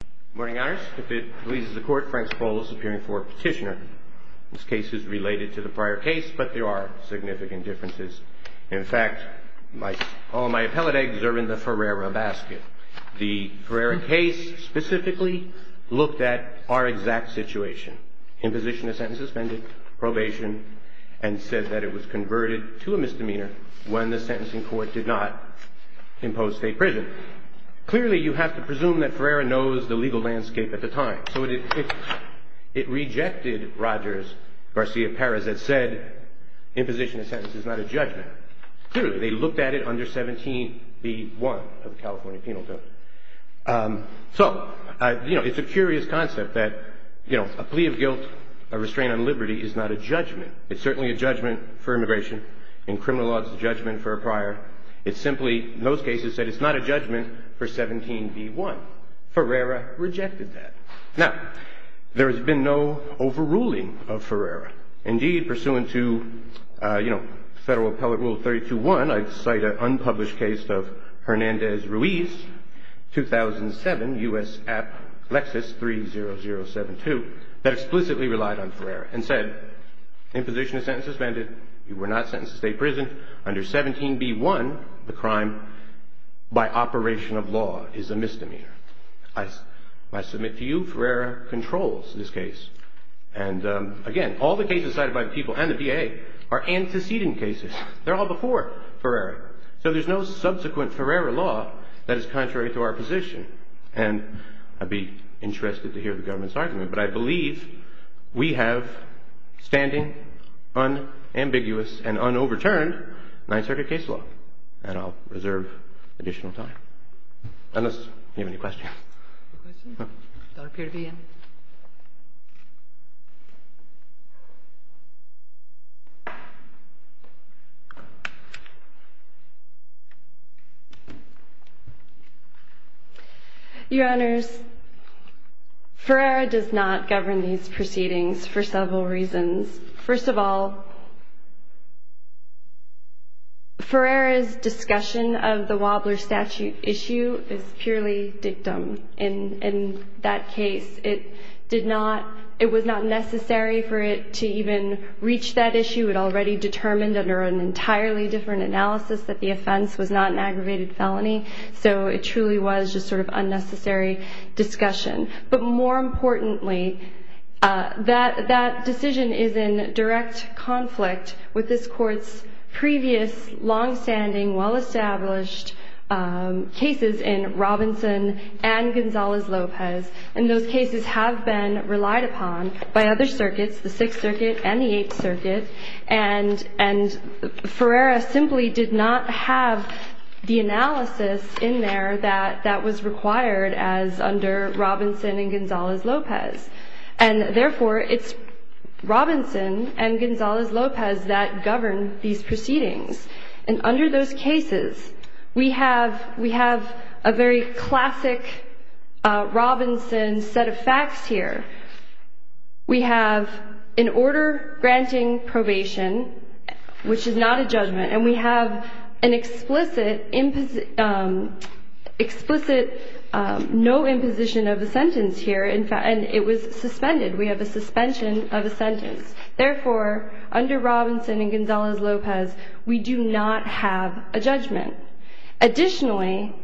Good morning, Your Honor. If it pleases the Court, Frank Spolo is appearing for a petitioner. This case is related to the prior case, but there are significant differences. In fact, all my appellate eggs are in the Ferreira basket. The Ferreira case specifically looked at our exact situation, imposition of sentence suspended, probation, and said that it was converted to a misdemeanor when the sentencing court did not impose state prison. Clearly, you have to presume that Ferreira knows the legal landscape at the time. It rejected Rogers, Garcia, Perez that said imposition of sentence is not a judgment. Clearly, they looked at it under 17b1 of the California Penal Code. It's a curious concept that a plea of guilt, a restraint on liberty, is not a judgment. It's certainly a judgment for immigration. In criminal law, it's a judgment for a prior. It's simply, in those cases, that it's not a judgment for 17b1. Ferreira rejected that. Now, there has been no overruling of Ferreira. Indeed, pursuant to Federal Appellate Rule 32-1, I cite an unpublished case of Hernandez-Ruiz, 2007, U.S. App Lexis 30072, that explicitly relied on Ferreira and said, imposition of sentence suspended, you were not sentenced to state prison under 17b1, the crime by operation of law is a misdemeanor. I submit to you, Ferreira controls this case. Again, all the cases cited by the people and the DA are antecedent cases. They're all before Ferreira. There's no subsequent Ferreira law that is contrary to our position. I'd be interested to hear the government's argument. But I believe we have standing, unambiguous, and un-overturned Ninth Circuit case law. And I'll reserve additional time, unless you have any questions. No questions? No. I don't appear to be in. Your Honors, Ferreira does not govern these proceedings for several reasons. First of all, Ferreira's discussion of the Wobbler statute issue is purely dictum. It was not necessary for it to even reach that issue. It already determined under an entirely different analysis that the offense was not an aggravated felony. So it truly was just sort of unnecessary discussion. But more importantly, that decision is in direct conflict with this Court's previous long-standing, well-established cases in Robinson and Gonzalez-Lopez. And those cases have been relied upon by other circuits, the Sixth Circuit and the Eighth Circuit. And Ferreira simply did not have the analysis in there that was required as under Robinson and Gonzalez-Lopez. And therefore, it's Robinson and Gonzalez-Lopez that govern these proceedings. And under those cases, we have a very classic Robinson set of facts here. We have an order granting probation, which is not a judgment. And we have an explicit no imposition of a sentence here. And it was suspended. We have a suspension of a sentence. Therefore, under Robinson and Gonzalez-Lopez, we do not have a judgment. Additionally,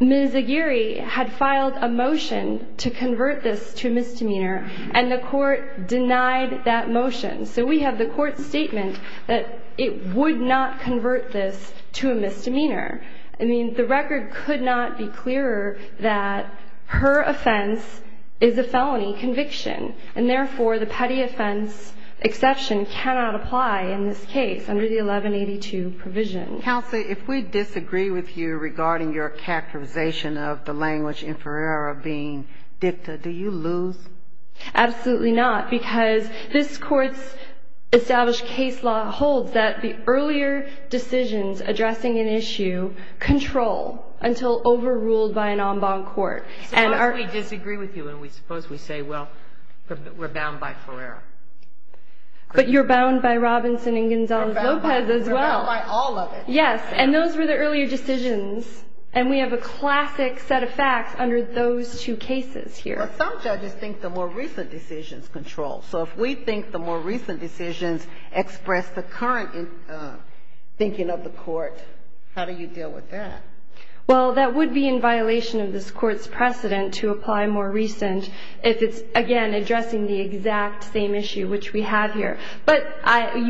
Ms. Aguirre had filed a motion to convert this to a misdemeanor, and the Court denied that motion. So we have the Court's statement that it would not convert this to a misdemeanor. I mean, the record could not be clearer that her offense is a felony conviction. And therefore, the petty offense exception cannot apply in this case under the 1182 provision. Counsel, if we disagree with you regarding your characterization of the language in Ferreira being dicta, do you lose? Absolutely not, because this Court's established case law holds that the earlier decisions addressing an issue control until overruled by an en banc court. Suppose we disagree with you and we suppose we say, well, we're bound by Ferreira. But you're bound by Robinson and Gonzalez-Lopez as well. We're bound by all of it. Yes, and those were the earlier decisions. And we have a classic set of facts under those two cases here. But some judges think the more recent decisions control. So if we think the more recent decisions express the current thinking of the Court, how do you deal with that? Well, that would be in violation of this Court's precedent to apply more recent if it's, again, addressing the exact same issue which we have here. But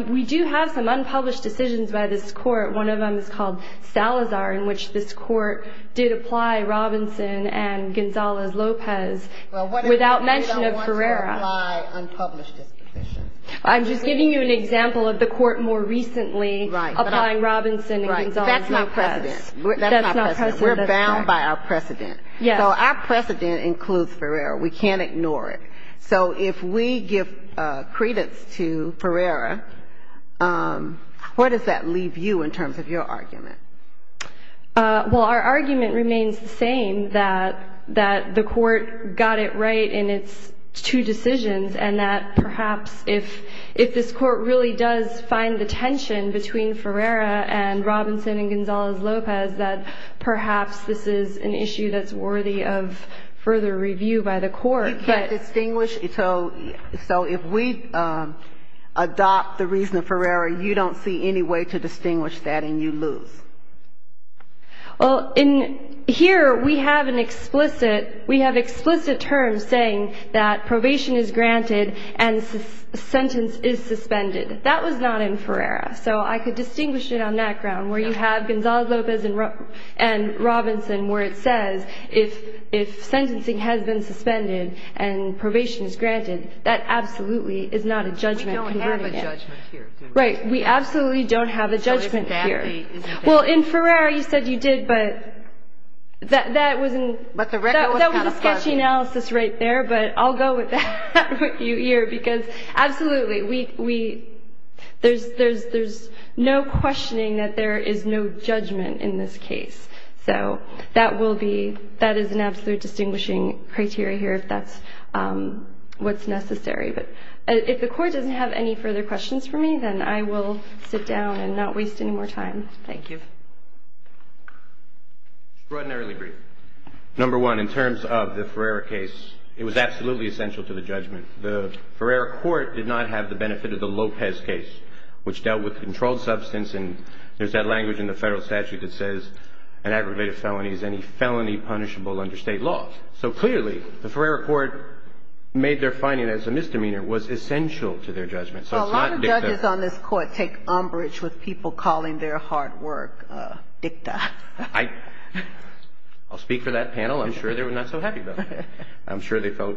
we do have some unpublished decisions by this Court. One of them is called Salazar in which this Court did apply Robinson and Gonzalez-Lopez without mention of Ferreira. Well, what if we don't want to apply unpublished decisions? I'm just giving you an example of the Court more recently applying Robinson and Gonzalez-Lopez. Right, but that's not precedent. That's not precedent. We're bound by our precedent. Yes. So our precedent includes Ferreira. We can't ignore it. So if we give credence to Ferreira, where does that leave you in terms of your argument? Well, our argument remains the same, that the Court got it right in its two decisions, and that perhaps if this Court really does find the tension between Ferreira and Robinson and Gonzalez-Lopez, that perhaps this is an issue that's worthy of further review by the Court. You can't distinguish. So if we adopt the reason of Ferreira, you don't see any way to distinguish that, and you lose. Well, in here we have an explicit, we have explicit terms saying that probation is granted and sentence is suspended. That was not in Ferreira. So I could distinguish it on that ground where you have Gonzalez-Lopez and Robinson where it says if sentencing has been suspended and probation is granted, that absolutely is not a judgment converting it. We don't have a judgment here. Right. We absolutely don't have a judgment here. Well, in Ferreira you said you did, but that was a sketchy analysis right there, but I'll go with that with you here, because absolutely we, there's no questioning that there is no judgment in this case. So that will be, that is an absolute distinguishing criteria here if that's what's necessary. But if the Court doesn't have any further questions for me, then I will sit down and not waste any more time. Thank you. Extraordinarily brief. Number one, in terms of the Ferreira case, it was absolutely essential to the judgment. The Ferreira Court did not have the benefit of the Lopez case, which dealt with controlled substance, and there's that language in the federal statute that says an aggravated felony is any felony punishable under state law. So clearly the Ferreira Court made their finding as a misdemeanor was essential to their judgment. So it's not dicta. A lot of judges on this Court take umbrage with people calling their hard work dicta. I'll speak for that panel. I'm sure they were not so happy about that. I'm sure they felt.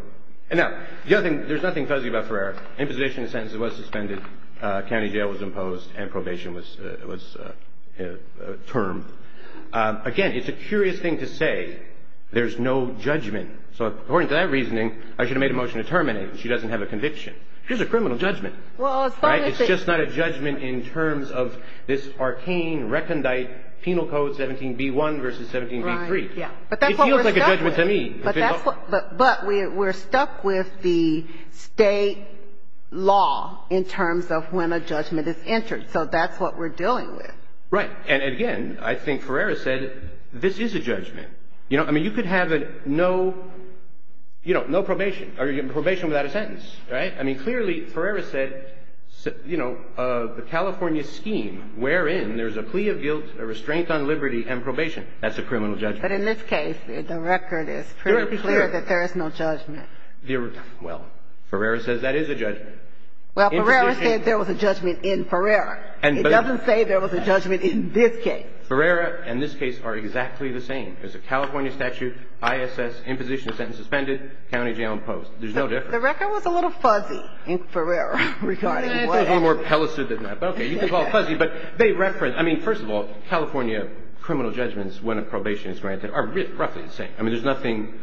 Now, the other thing, there's nothing fuzzy about Ferreira. In this case, as far as I know, there was no judgment. If you look at the state of the matter, imposition of sentence was suspended, county jail was imposed, and probation was termed. Again, it's a curious thing to say there's no judgment, so according to that reasoning, I should have made a motion to terminate. She doesn't have a conviction. It's just a criminal judgment. Right? It's just not a judgment in terms of this arcane recondite penal code 17B1 v. 17B3. But that's what we're stuck with. It feels like a judgment to me. But we're stuck with the state law in terms of when a judgment is entered, so that's what we're dealing with. And again, I think Ferreira said this is a judgment. I mean, you could have no probation or probation without a sentence. Right? I mean, clearly Ferreira said the California scheme wherein there's a plea of guilt, a restraint on liberty, and probation, that's a criminal judgment. But in this case, the record is pretty clear that there is no judgment. Well, Ferreira says that is a judgment. Well, Ferreira said there was a judgment in Ferreira. It doesn't say there was a judgment in this case. Ferreira and this case are exactly the same. There's a California statute, ISS, imposition of sentence suspended, county jail imposed. There's no difference. The record was a little fuzzy in Ferreira regarding what happened. Okay. You can call it fuzzy. I mean, first of all, California criminal judgments when a probation is granted are roughly the same. I mean, there's nothing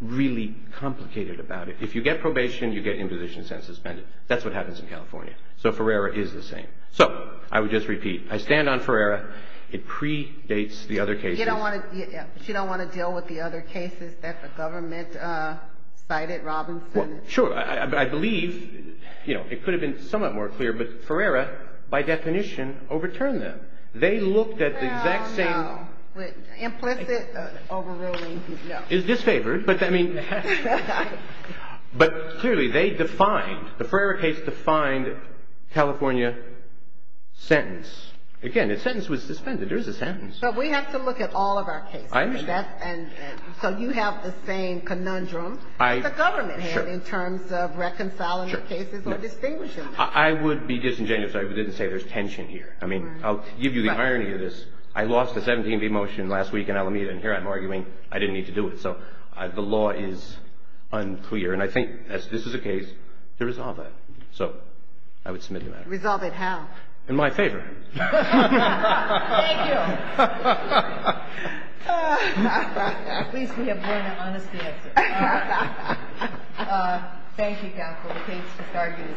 really complicated about it. If you get probation, you get imposition of sentence suspended. That's what happens in California. So Ferreira is the same. So I would just repeat, I stand on Ferreira. It predates the other cases. You don't want to deal with the other cases that the government cited, Robinson? Well, sure. I believe, you know, it could have been somewhat more clear, but Ferreira, by definition, overturned them. They looked at the exact same. Well, no. Implicit, overruling, no. It's disfavored, but I mean, but clearly they defined, the Ferreira case defined California sentence. Again, the sentence was suspended. There is a sentence. But we have to look at all of our cases. I understand. So you have the same conundrum. The government had in terms of reconciling the cases or distinguishing them. I would be disingenuous if I didn't say there's tension here. I mean, I'll give you the irony of this. I lost the 17B motion last week in Alameda, and here I'm arguing I didn't need to do it. So the law is unclear, and I think this is a case to resolve that. So I would submit to that. Resolve it how? In my favor. Thank you. At least we have learned an honest answer. Thank you, Counsel. The case is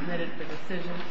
submitted for decision.